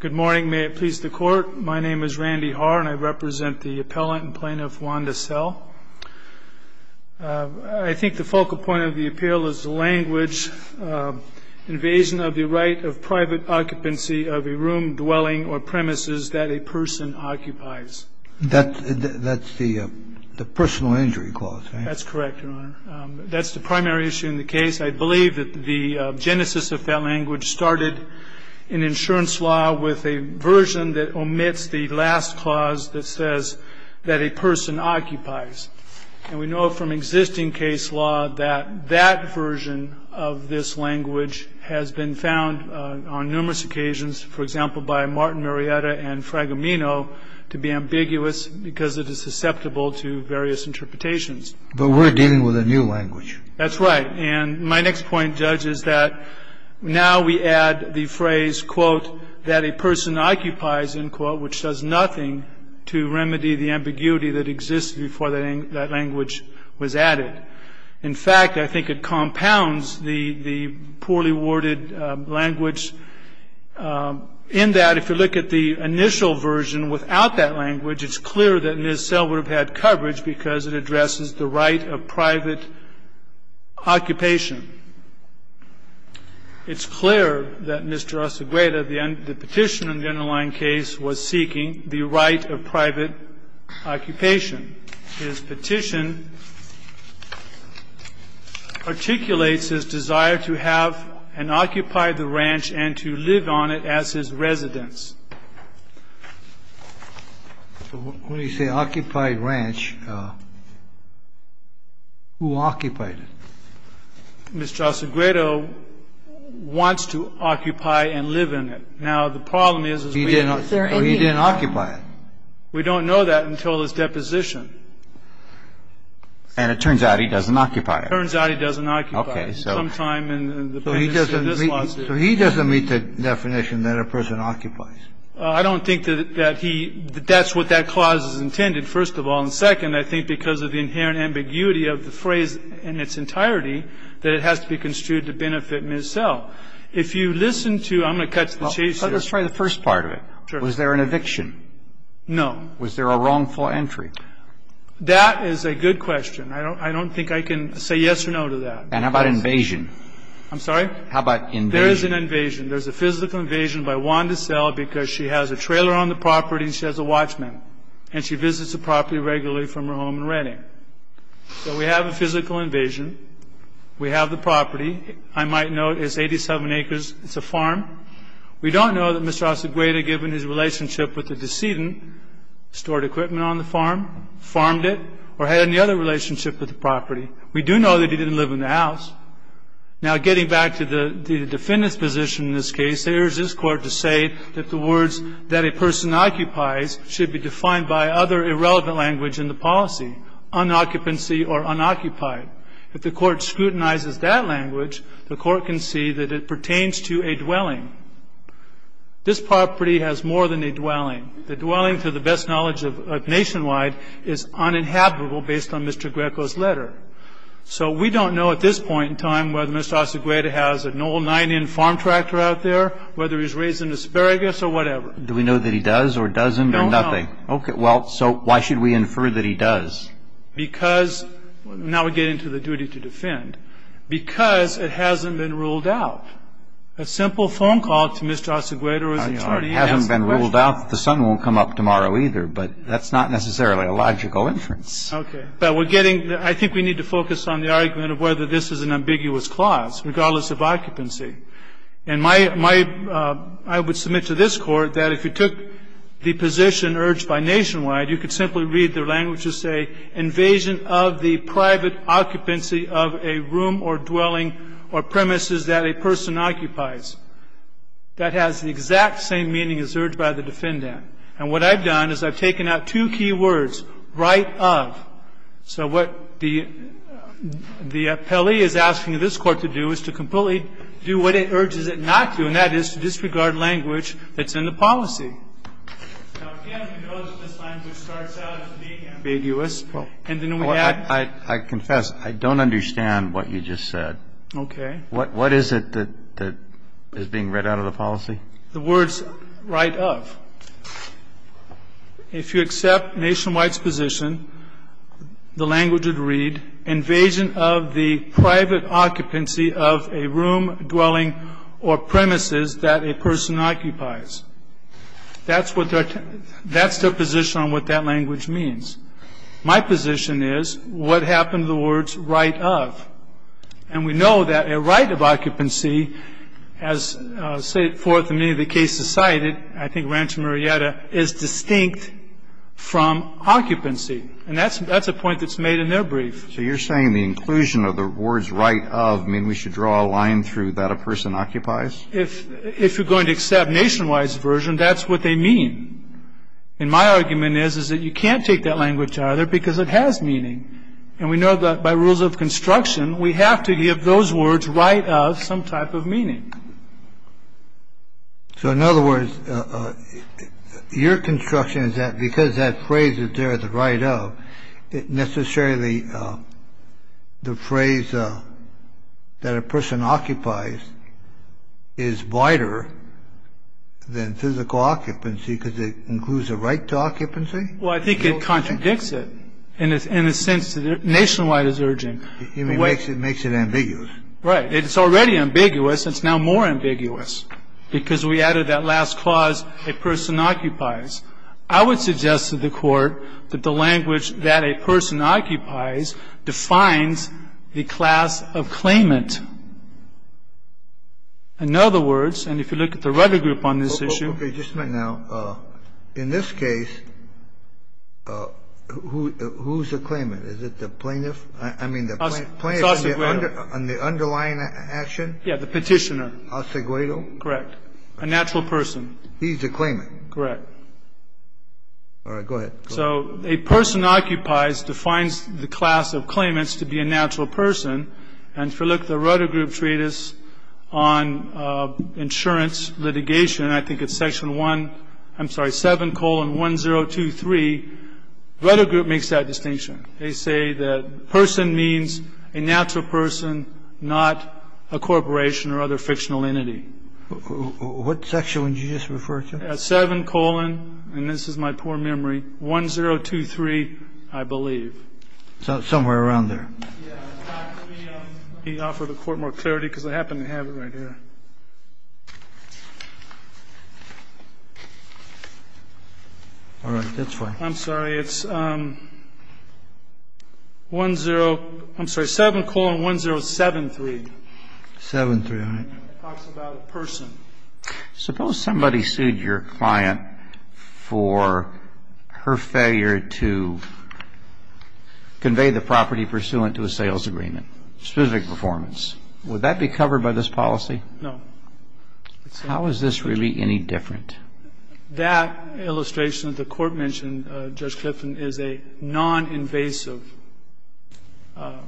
Good morning. May it please the Court. My name is Randy Haar and I represent the appellant and plaintiff Wanda Sell. I think the focal point of the appeal is the language, invasion of the right of private occupancy of a room, dwelling, or premises that a person occupies. That's the personal injury clause, right? That's correct, Your Honor. That's the primary issue in the case. I believe that the genesis of that language started in insurance law with a version that omits the last clause that says that a person occupies. And we know from existing case law that that version of this language has been found on numerous occasions, for example, by Martin Marietta and Fragamino, to be ambiguous because it is susceptible to various interpretations. But we're dealing with a new language. That's right. And my next point, Judge, is that now we add the phrase, quote, that a person occupies, end quote, which does nothing to remedy the ambiguity that existed before that language was added. In fact, I think it compounds the poorly worded language in that if you look at the initial version without that language, it's clear that Ms. Sell would have had coverage because it addresses the right of private occupation. It's clear that Mr. Osegueda, the petitioner in the underlying case, was seeking the right of private occupation. His petition articulates his desire to have and occupy the ranch and to live on it as his residence. So when you say occupied ranch, who occupied it? Mr. Osegueda wants to occupy and live in it. Now, the problem is, is we don't know. He didn't occupy it. We don't know that until his deposition. And it turns out he doesn't occupy it. It turns out he doesn't occupy it. Okay. So he doesn't meet the definition that a person occupies. I don't think that he – that's what that clause is intended, first of all. And second, I think because of the inherent ambiguity of the phrase in its entirety, that it has to be construed to benefit Ms. Sell. If you listen to – I'm going to cut to the chase here. Let's try the first part of it. Sure. Was there an eviction? No. Was there a wrongful entry? That is a good question. I don't think I can say yes or no to that. And how about invasion? I'm sorry? How about invasion? There is an invasion. There's a physical invasion by Wanda Sell because she has a trailer on the property and she has a watchman, and she visits the property regularly from her home in Redding. So we have a physical invasion. We have the property. I might note it's 87 acres. It's a farm. We don't know that Mr. Osegueda, given his relationship with the decedent, stored equipment on the farm, farmed it, or had any other relationship with the property. We do know that he didn't live in the house. Now, getting back to the defendant's position in this case, there is this Court to say that the words that a person occupies should be defined by other irrelevant language in the policy, unoccupancy or unoccupied. If the Court scrutinizes that language, the Court can see that it pertains to a dwelling. This property has more than a dwelling. The dwelling, to the best knowledge nationwide, is uninhabitable based on Mr. Greco's letter. So we don't know at this point in time whether Mr. Osegueda has an old nine-in farm tractor out there, whether he's raised an asparagus or whatever. Do we know that he does or doesn't or nothing? We don't know. Okay. Well, so why should we infer that he does? Because, now we get into the duty to defend, because it hasn't been ruled out. A simple phone call to Mr. Osegueda or his attorney and ask the question. It hasn't been ruled out that the son won't come up tomorrow either, but that's not necessarily a logical inference. Okay. But we're getting, I think we need to focus on the argument of whether this is an ambiguous clause, regardless of occupancy. And my, I would submit to this Court that if you took the position urged by nationwide, you could simply read their language as say, invasion of the private occupancy of a room or dwelling or premises that a person occupies. That has the exact same meaning as urged by the defendant. And what I've done is I've taken out two key words, right of. So what the appellee is asking this Court to do is to completely do what it urges it not to, and that is to disregard language that's in the policy. Now, again, we know that this language starts out as being ambiguous. Well, I confess, I don't understand what you just said. Okay. What is it that is being read out of the policy? The words right of. If you accept nationwide's position, the language would read, invasion of the private occupancy of a room, dwelling, or premises that a person occupies. That's their position on what that language means. My position is, what happened to the words right of? And we know that a right of occupancy, as set forth in many of the cases cited, I think Rancho Murrieta, is distinct from occupancy. And that's a point that's made in their brief. So you're saying the inclusion of the words right of mean we should draw a line through that a person occupies? If you're going to accept nationwide's version, that's what they mean. And my argument is, is that you can't take that language either because it has meaning. And we know that by rules of construction, we have to give those words right of some type of meaning. So in other words, your construction is that because that phrase is there, the right of, necessarily the phrase that a person occupies is wider than physical occupancy because it includes a right to occupancy? Well, I think it contradicts it in a sense that nationwide is urging. It makes it ambiguous. Right. It's already ambiguous. It's now more ambiguous because we added that last clause, a person occupies. I would suggest to the Court that the language that a person occupies defines the class of claimant. In other words, and if you look at the rudder group on this issue. Just a minute now. In this case, who's the claimant? Is it the plaintiff? I mean, the plaintiff on the underlying action? Yeah, the petitioner. Aceguedo? Correct. A natural person. He's the claimant. Correct. All right. Go ahead. So a person occupies defines the class of claimants to be a natural person. And if you look at the rudder group treatise on insurance litigation, I think it's section one. I'm sorry, 7 colon 1023. Rudder group makes that distinction. They say that person means a natural person, not a corporation or other fictional entity. What section would you just refer to? 7 colon, and this is my poor memory, 1023, I believe. Somewhere around there. Let me offer the Court more clarity because I happen to have it right here. All right. That's fine. I'm sorry. It's 10, I'm sorry, 7 colon 1073. 73, all right. It talks about a person. Suppose somebody sued your client for her failure to convey the property pursuant to a sales agreement, specific performance. Would that be covered by this policy? No. How is this really any different? That illustration that the Court mentioned, Judge Clifton, is a non-invasive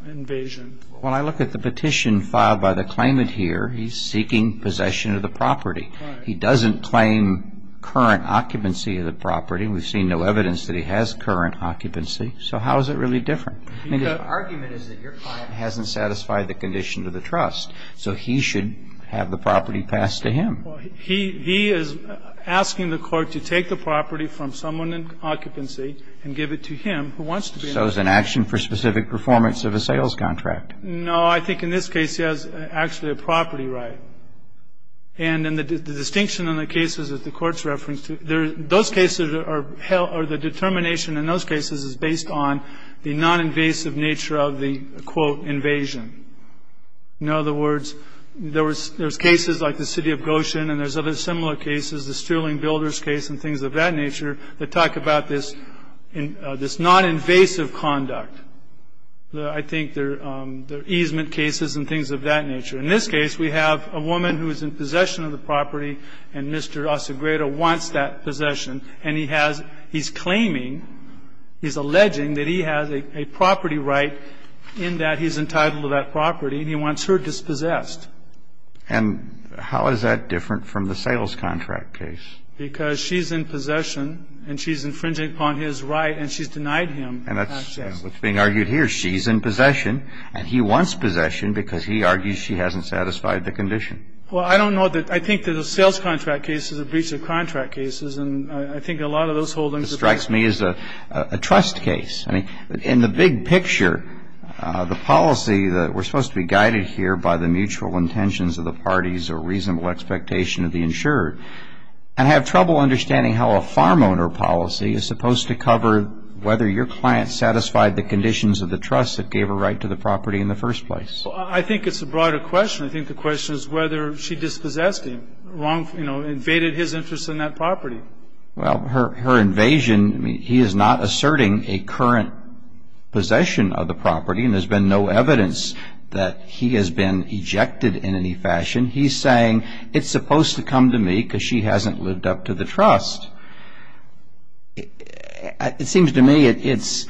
invasion. Well, I look at the petition filed by the claimant here. He's seeking possession of the property. He doesn't claim current occupancy of the property. We've seen no evidence that he has current occupancy. So how is it really different? The argument is that your client hasn't satisfied the conditions of the trust, so he should have the property passed to him. Well, he is asking the Court to take the property from someone in occupancy and give it to him who wants to be in it. So it's an action for specific performance of a sales contract. No. I think in this case he has actually a property right. And the distinction in the cases that the Court's reference to, those cases are held, or the determination in those cases is based on the non-invasive nature of the, quote, invasion. In other words, there's cases like the City of Goshen, and there's other similar cases, the Sterling Builders case and things of that nature, that talk about this non-invasive conduct. I think there are easement cases and things of that nature. In this case, we have a woman who is in possession of the property, and Mr. Osagreda wants that possession. And he has he's claiming, he's alleging that he has a property right in that he's entitled to that property, and he wants her dispossessed. And how is that different from the sales contract case? Because she's in possession, and she's infringing upon his right, and she's denied him access. And that's what's being argued here. She's in possession, and he wants possession because he argues she hasn't satisfied the condition. Well, I don't know. I think that the sales contract case is a breach of contract cases, and I think a lot of those holdings. It strikes me as a trust case. I mean, in the big picture, the policy that we're supposed to be guided here by the mutual intentions of the parties or reasonable expectation of the insurer. I have trouble understanding how a farm owner policy is supposed to cover whether your client satisfied the conditions of the trust that gave her right to the property in the first place. Well, I think it's a broader question. I think the question is whether she dispossessed him, you know, invaded his interest in that property. Well, her invasion, I mean, he is not asserting a current possession of the property, and there's been no evidence that he has been ejected in any fashion. He's saying it's supposed to come to me because she hasn't lived up to the trust. It seems to me it's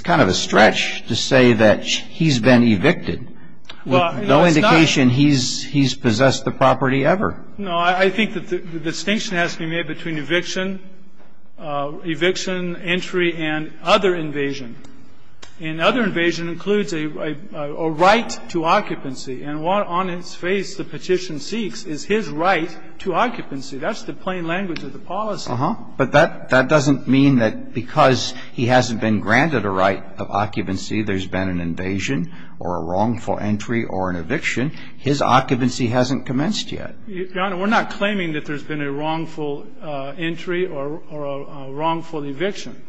kind of a stretch to say that he's been evicted. No indication he's possessed the property ever. No. I think that the distinction has to be made between eviction, eviction, entry, and other invasion. And other invasion includes a right to occupancy. And what on its face the petition seeks is his right to occupancy. That's the plain language of the policy. Uh-huh. But that doesn't mean that because he hasn't been granted a right of occupancy there's been an invasion or a wrongful entry or an eviction. His occupancy hasn't commenced yet. Your Honor, we're not claiming that there's been a wrongful entry or a wrongful eviction.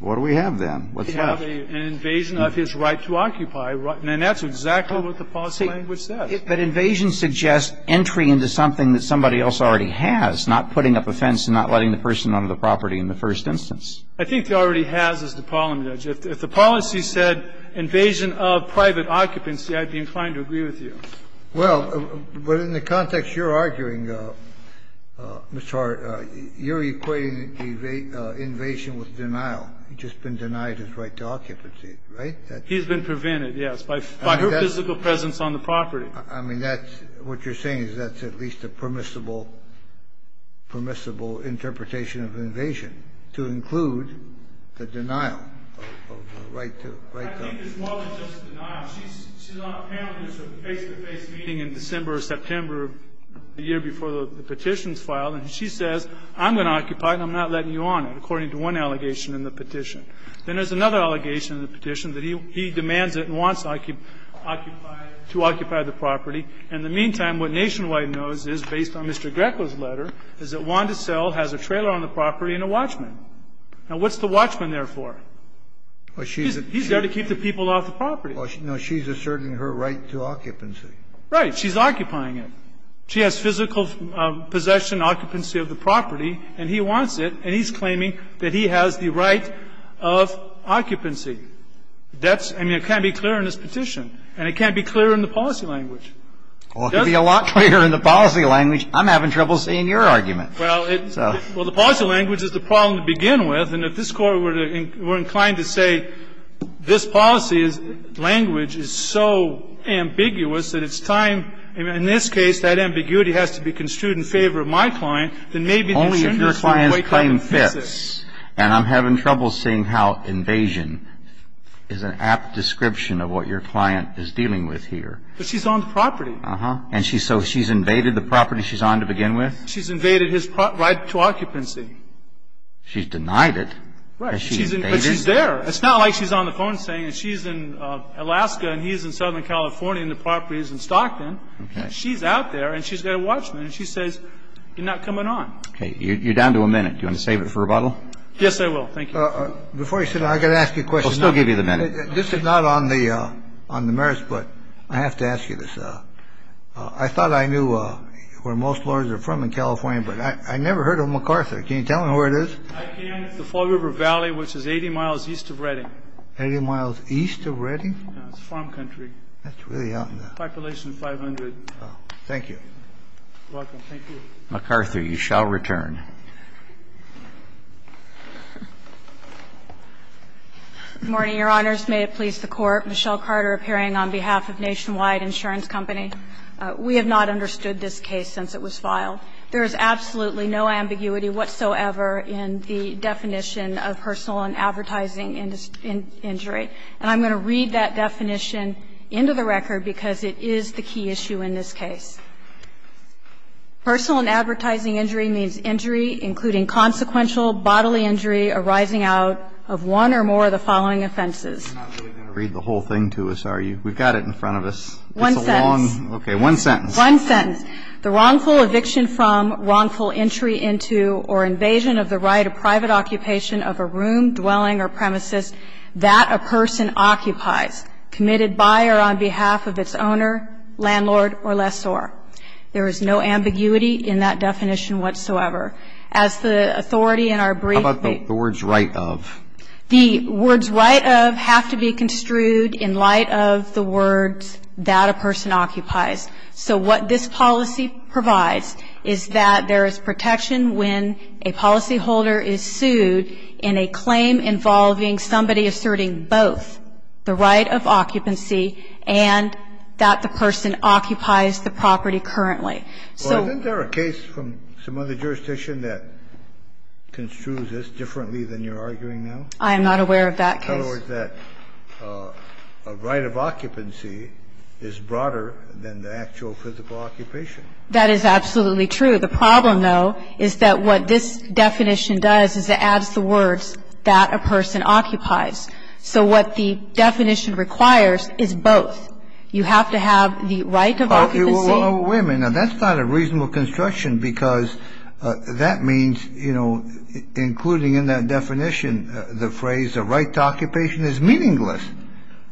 What do we have then? What's left? We have an invasion of his right to occupy, and that's exactly what the policy language says. But invasion suggests entry into something that somebody else already has, not putting up a fence and not letting the person own the property in the first instance. I think he already has as the parliament judge. If the policy said invasion of private occupancy, I'd be inclined to agree with you. Well, but in the context you're arguing, Mr. Hart, you're equating invasion with denial. He's just been denied his right to occupancy, right? He's been prevented, yes, by her physical presence on the property. I mean, that's what you're saying is that's at least a permissible, permissible interpretation of invasion to include the denial of the right to occupy. I think it's more than just denial. She's on a panel. There's a face-to-face meeting in December or September, the year before the petition is filed, and she says, I'm going to occupy it and I'm not letting you own it, according to one allegation in the petition. Then there's another allegation in the petition that he demands it and wants to occupy the property. In the meantime, what Nationwide knows is, based on Mr. Greco's letter, is that Wanda Purcell has a trailer on the property and a watchman. Now, what's the watchman there for? He's there to keep the people off the property. Well, no. She's asserting her right to occupancy. Right. She's occupying it. She has physical possession, occupancy of the property, and he wants it, and he's claiming that he has the right of occupancy. That's – I mean, it can't be clear in this petition, and it can't be clear in the policy language. Well, it could be a lot clearer in the policy language. I'm having trouble seeing your argument. Well, the policy language is the problem to begin with. And if this Court were inclined to say this policy language is so ambiguous that it's time – in this case, that ambiguity has to be construed in favor of my client, then maybe the discernment would wake up in physics. Only if your client's claim fits. And I'm having trouble seeing how invasion is an apt description of what your client is dealing with here. But she's on the property. Uh-huh. And so she's invaded the property she's on to begin with? She's invaded his right to occupancy. She's denied it? Right. But she's there. It's not like she's on the phone saying she's in Alaska and he's in Southern California and the property is in Stockton. Okay. She's out there, and she's got a watchman, and she says, you're not coming on. Okay. You're down to a minute. Do you want to save it for rebuttal? Yes, I will. Thank you. Before you sit down, I've got to ask you a question. We'll still give you the minute. This is not on the merits, but I have to ask you this. I thought I knew where most lawyers are from in California, but I never heard of MacArthur. Can you tell me where it is? It's the Fall River Valley, which is 80 miles east of Redding. Eighty miles east of Redding? It's a farm country. That's really out in the... Population 500. Thank you. You're welcome. Thank you. MacArthur, you shall return. Good morning, Your Honors. May it please the Court. I'm Michelle Carter, appearing on behalf of Nationwide Insurance Company. We have not understood this case since it was filed. There is absolutely no ambiguity whatsoever in the definition of personal and advertising injury, and I'm going to read that definition into the record, because it is the key issue in this case. Personal and advertising injury means injury including consequential bodily injury arising out of one or more of the following offenses. You're not really going to read the whole thing to us, are you? We've got it in front of us. One sentence. Okay. One sentence. One sentence. The wrongful eviction from, wrongful entry into, or invasion of the right of private occupation of a room, dwelling, or premises that a person occupies, committed by or on behalf of its owner, landlord, or lessor. There is no ambiguity in that definition whatsoever. As the authority in our brief... How about the words right of? The words right of have to be construed in light of the words that a person occupies. So what this policy provides is that there is protection when a policyholder is sued in a claim involving somebody asserting both the right of occupancy and that the person occupies the property currently. So... Well, isn't there a case from some other jurisdiction that construes this differently than you're arguing now? I am not aware of that case. In other words, that right of occupancy is broader than the actual physical occupation. That is absolutely true. The problem, though, is that what this definition does is it adds the words that a person occupies. So what the definition requires is both. Well, wait a minute. Now, that's not a reasonable construction because that means, you know, including in that definition the phrase the right to occupation is meaningless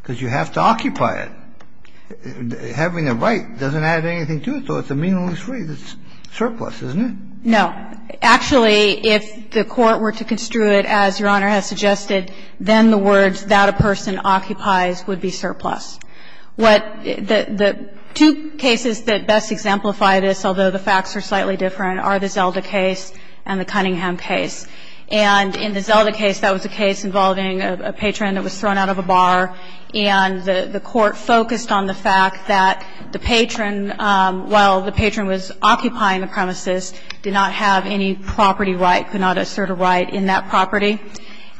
because you have to occupy it. Having a right doesn't add anything to it, so it's a meaningless phrase. It's surplus, isn't it? No. Actually, if the Court were to construe it as Your Honor has suggested, then the words that a person occupies would be surplus. What the two cases that best exemplify this, although the facts are slightly different, are the Zelda case and the Cunningham case. And in the Zelda case, that was a case involving a patron that was thrown out of a bar, and the Court focused on the fact that the patron, while the patron was occupying the premises, did not have any property right, could not assert a right in that property.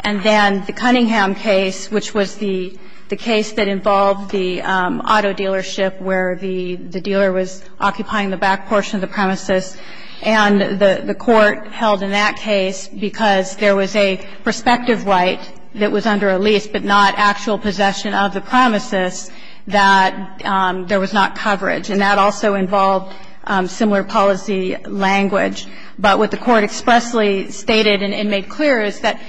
And then the Cunningham case, which was the case that involved the auto dealership where the dealer was occupying the back portion of the premises, and the Court held in that case, because there was a prospective right that was under a lease but not actual possession of the premises, that there was not coverage. And that also involved similar policy language. But what the Court expressly stated and made clear is that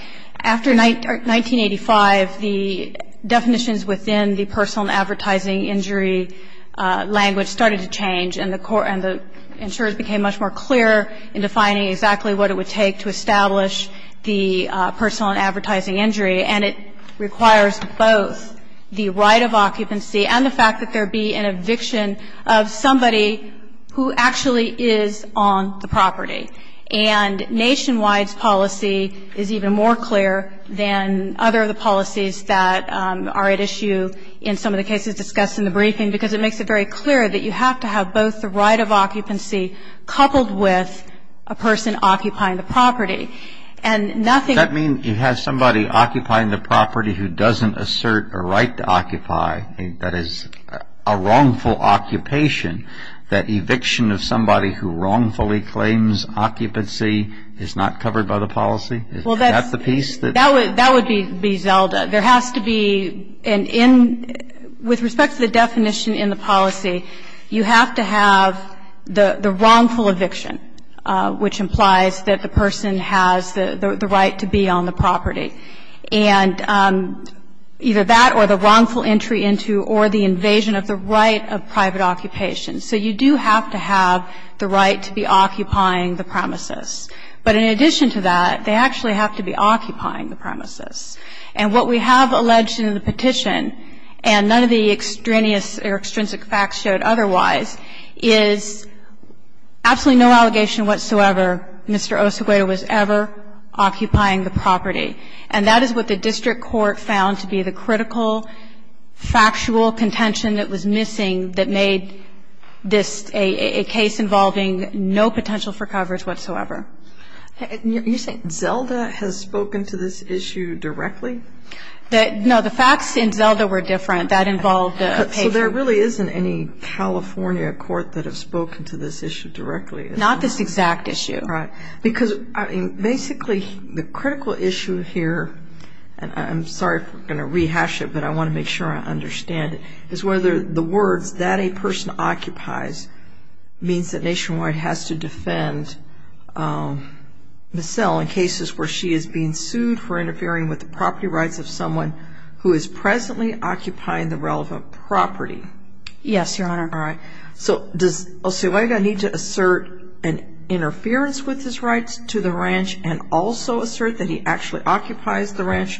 after 1985, the definitions within the personal and advertising injury language started to change, and the insurers became much more clear in defining exactly what it would take to establish the personal and advertising injury. And it requires both the right of occupancy and the fact that there be an eviction of somebody who actually is on the property. And Nationwide's policy is even more clear than other of the policies that are at issue in some of the cases discussed in the briefing, because it makes it very clear that you have to have both the right of occupancy coupled with a person occupying the property. And nothing else. That means you have somebody occupying the property who doesn't assert a right to occupy, that is, a wrongful occupation. That eviction of somebody who wrongfully claims occupancy is not covered by the policy? Is that the piece that you're looking at? Well, that would be Zelda. There has to be an end. With respect to the definition in the policy, you have to have the wrongful eviction, which implies that the person has the right to be on the property. And either that or the wrongful entry into or the invasion of the right of private occupation. So you do have to have the right to be occupying the premises. But in addition to that, they actually have to be occupying the premises. And what we have alleged in the petition, and none of the extraneous or extrinsic facts showed otherwise, is absolutely no allegation whatsoever Mr. Osegueda was ever occupying the property. And that is what the district court found to be the critical factual contention that was missing that made this a case involving no potential for coverage whatsoever. You're saying Zelda has spoken to this issue directly? No, the facts in Zelda were different. That involved a patient. So there really isn't any California court that have spoken to this issue directly? Not this exact issue. Because basically the critical issue here, and I'm sorry if I'm going to rehash it, but I want to make sure I understand it, is whether the words that a person occupies means that Nationwide has to defend Michelle in cases where she is being sued for interfering with the property rights of someone who is presently occupying the relevant property. Yes, Your Honor. All right. So does Osegueda need to assert an interference with his rights to the ranch and also assert that he actually occupies the ranch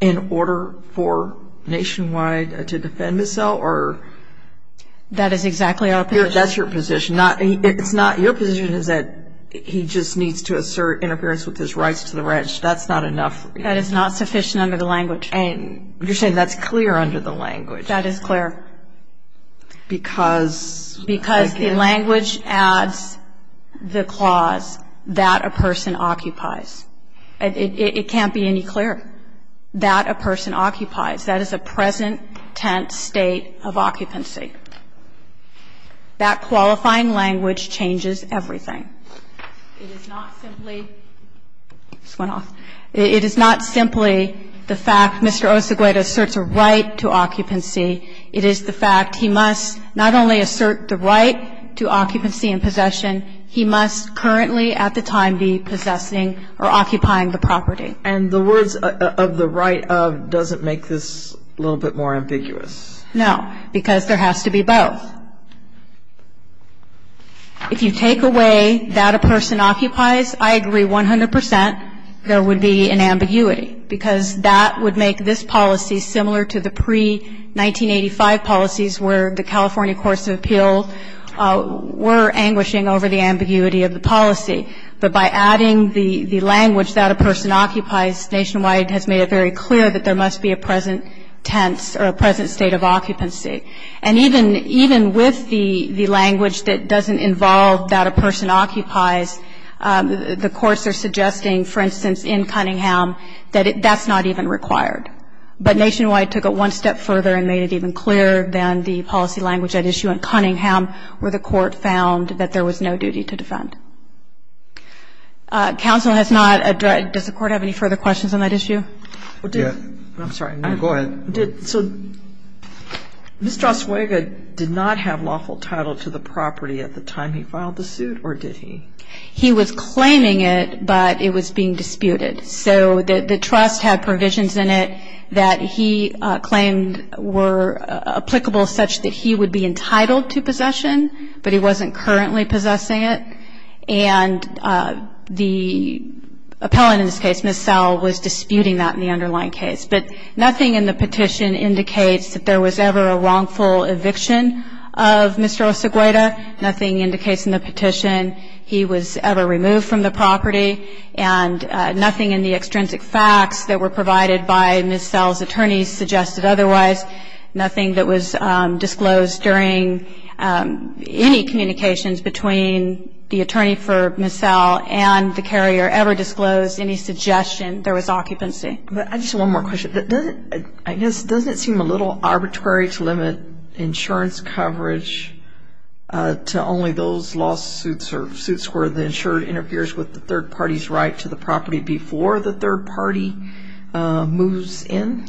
in order for Nationwide to defend Michelle or? That is exactly our position. That's your position. It's not your position is that he just needs to assert interference with his rights to the ranch. That's not enough. That is not sufficient under the language. And you're saying that's clear under the language. That is clear. Because again the language adds the clause that a person occupies. It can't be any clearer. That a person occupies. That is a present tense state of occupancy. That qualifying language changes everything. It is not simply the fact Mr. Osegueda asserts a right to occupancy. It is the fact he must not only assert the right to occupancy and possession. He must currently at the time be possessing or occupying the property. And the words of the right of doesn't make this a little bit more ambiguous. No. Because there has to be both. If you take away that a person occupies, I agree 100 percent there would be an ambiguity because that would make this policy similar to the pre-1985 policies where the California Courts of Appeal were anguishing over the ambiguity of the policy. But by adding the language that a person occupies, Nationwide has made it very clear that there must be a present tense or a present state of occupancy. And even with the language that doesn't involve that a person occupies, the courts are suggesting, for instance, in Cunningham, that that's not even required. But Nationwide took it one step further and made it even clearer than the policy language at issue in Cunningham where the court found that there was no duty to defend. Counsel has not addressed, does the court have any further questions on that issue? I'm sorry. Go ahead. So Mr. Osegueda did not have lawful title to the property at the time he filed the suit or did he? He was claiming it, but it was being disputed. So the trust had provisions in it that he claimed were applicable such that he would be entitled to possession, but he wasn't currently possessing it. And the appellant in this case, Ms. Sowell, was disputing that in the underlying case. But nothing in the petition indicates that there was ever a wrongful eviction of Mr. Osegueda. Nothing indicates in the petition. He was ever removed from the property. And nothing in the extrinsic facts that were provided by Ms. Sowell's attorney suggested otherwise. Nothing that was disclosed during any communications between the attorney for Ms. Sowell and the carrier ever disclosed any suggestion there was occupancy. I just have one more question. I guess, doesn't it seem a little arbitrary to limit insurance coverage to only those lawsuits or suits where the insurer interferes with the third party's right to the property before the third party moves in?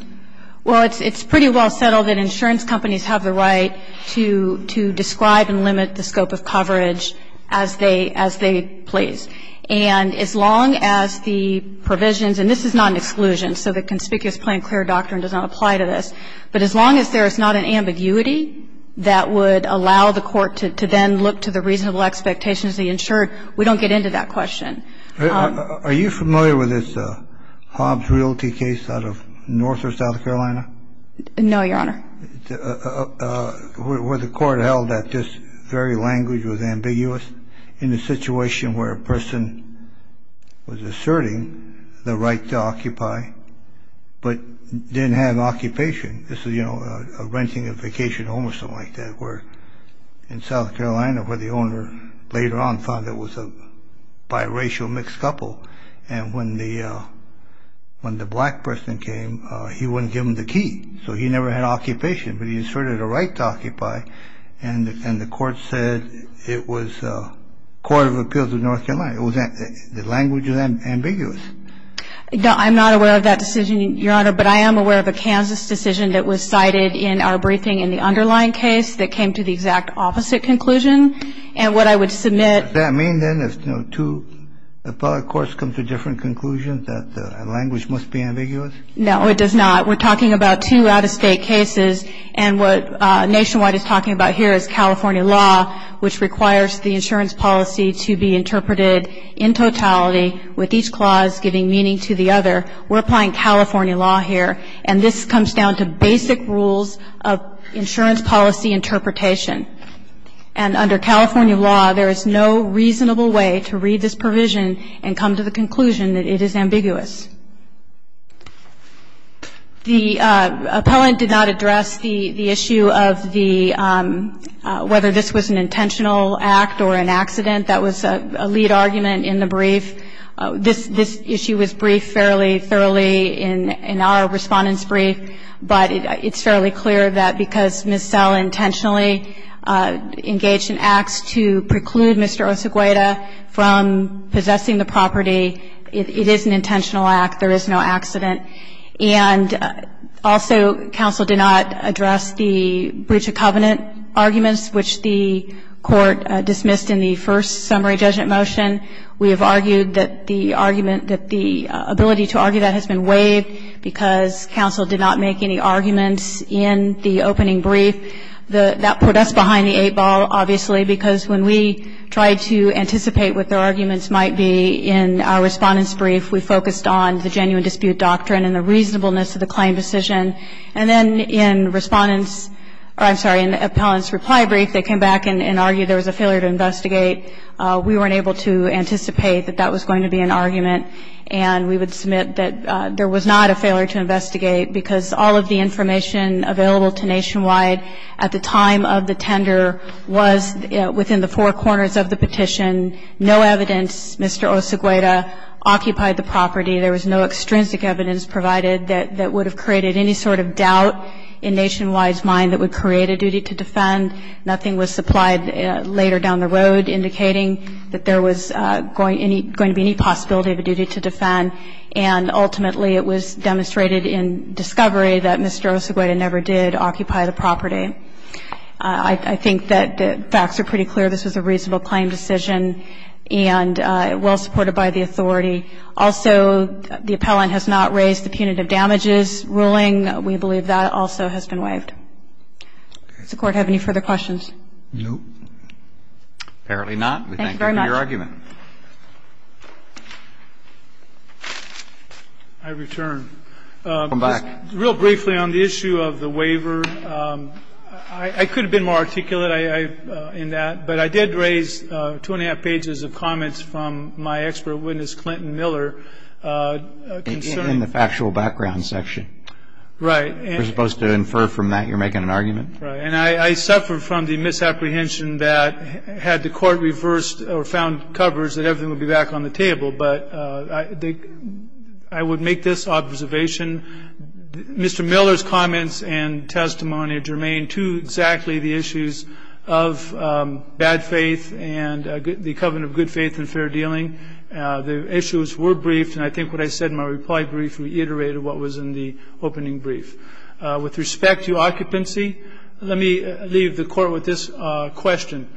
Well, it's pretty well settled that insurance companies have the right to describe and limit the scope of coverage as they place. And as long as the provisions, and this is not an exclusion, so that conspicuous plan, clear doctrine does not apply to this. But as long as there is not an ambiguity that would allow the court to then look to the reasonable expectations of the insurer, we don't get into that question. Are you familiar with this Hobbs Realty case out of North or South Carolina? No, Your Honor. Where the court held that this very language was ambiguous in a situation where a person was asserting the right to occupy but didn't have occupation. This is, you know, a renting a vacation home or something like that where in South Carolina where the owner later on found it was a biracial mixed couple. And when the black person came, he wouldn't give him the key. So he never had occupation, but he asserted a right to occupy. And the court said it was a court of appeals of North Carolina. The language is ambiguous. No, I'm not aware of that decision, Your Honor. But I am aware of a Kansas decision that was cited in our briefing in the underlying case that came to the exact opposite conclusion. And what I would submit. Does that mean then if two appellate courts come to different conclusions that the language must be ambiguous? No, it does not. We're talking about two out-of-state cases. And what Nationwide is talking about here is California law, which requires the insurance policy to be interpreted in totality with each clause giving meaning to the other. We're applying California law here. And this comes down to basic rules of insurance policy interpretation. And under California law, there is no reasonable way to read this provision and come to the conclusion that it is ambiguous. The appellant did not address the issue of the, whether this was an intentional act or an accident. That was a lead argument in the brief. This issue was briefed fairly thoroughly in our Respondent's brief. But it's fairly clear that because Ms. Sell intentionally engaged in acts to preclude Mr. Osegueda from possessing the property, it is an intentional act. There is no accident. And also, counsel did not address the breach of covenant arguments, which the court dismissed in the first summary judgment motion. We have argued that the argument, that the ability to argue that has been waived because counsel did not make any arguments in the opening brief. That put us behind the eight ball, obviously, because when we tried to anticipate what their arguments might be in our Respondent's brief, we focused on the genuine dispute doctrine and the reasonableness of the claim decision. And then in Respondent's, I'm sorry, in the Appellant's reply brief, they came back and argued there was a failure to investigate. We weren't able to anticipate that that was going to be an argument. And we would submit that there was not a failure to investigate because all of the information available to Nationwide at the time of the tender was within the four corners of the petition. No evidence, Mr. Osegueda occupied the property. There was no extrinsic evidence provided that would have created any sort of doubt in Nationwide's mind that would create a duty to defend. Nothing was supplied later down the road indicating that there was going to be any possibility of a duty to defend. And ultimately, it was demonstrated in discovery that Mr. Osegueda never did occupy the property. I think that the facts are pretty clear. This was a reasonable claim decision and well supported by the authority. Also, the Appellant has not raised the punitive damages ruling. We believe that also has been waived. Does the Court have any further questions? No. Apparently not. Thank you very much. We thank you for your argument. I return. Come back. Real briefly on the issue of the waiver, I could have been more articulate in that, but I did raise two and a half pages of comments from my expert witness, Clinton Miller, concerning the factual background section. Right. You're supposed to infer from that you're making an argument? Right. And I suffer from the misapprehension that had the Court reversed or found coverage, that everything would be back on the table. But I would make this observation. Mr. Miller's comments and testimony are germane to exactly the issues of bad faith and the covenant of good faith and fair dealing. The issues were briefed. And I think what I said in my reply brief reiterated what was in the opening brief. With respect to occupancy, let me leave the Court with this question.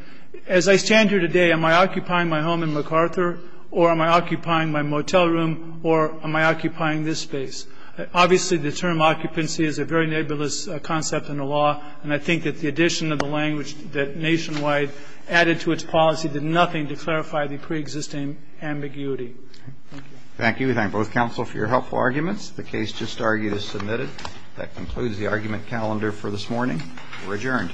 As I stand here today, am I occupying my home in MacArthur, or am I occupying my motel room, or am I occupying this space? Obviously, the term occupancy is a very nebulous concept in the law. And I think that the addition of the language that Nationwide added to its policy did nothing to clarify the preexisting ambiguity. Thank you. Thank you. We thank both counsel for your helpful arguments. The case just argued is submitted. That concludes the argument calendar for this morning. We're adjourned.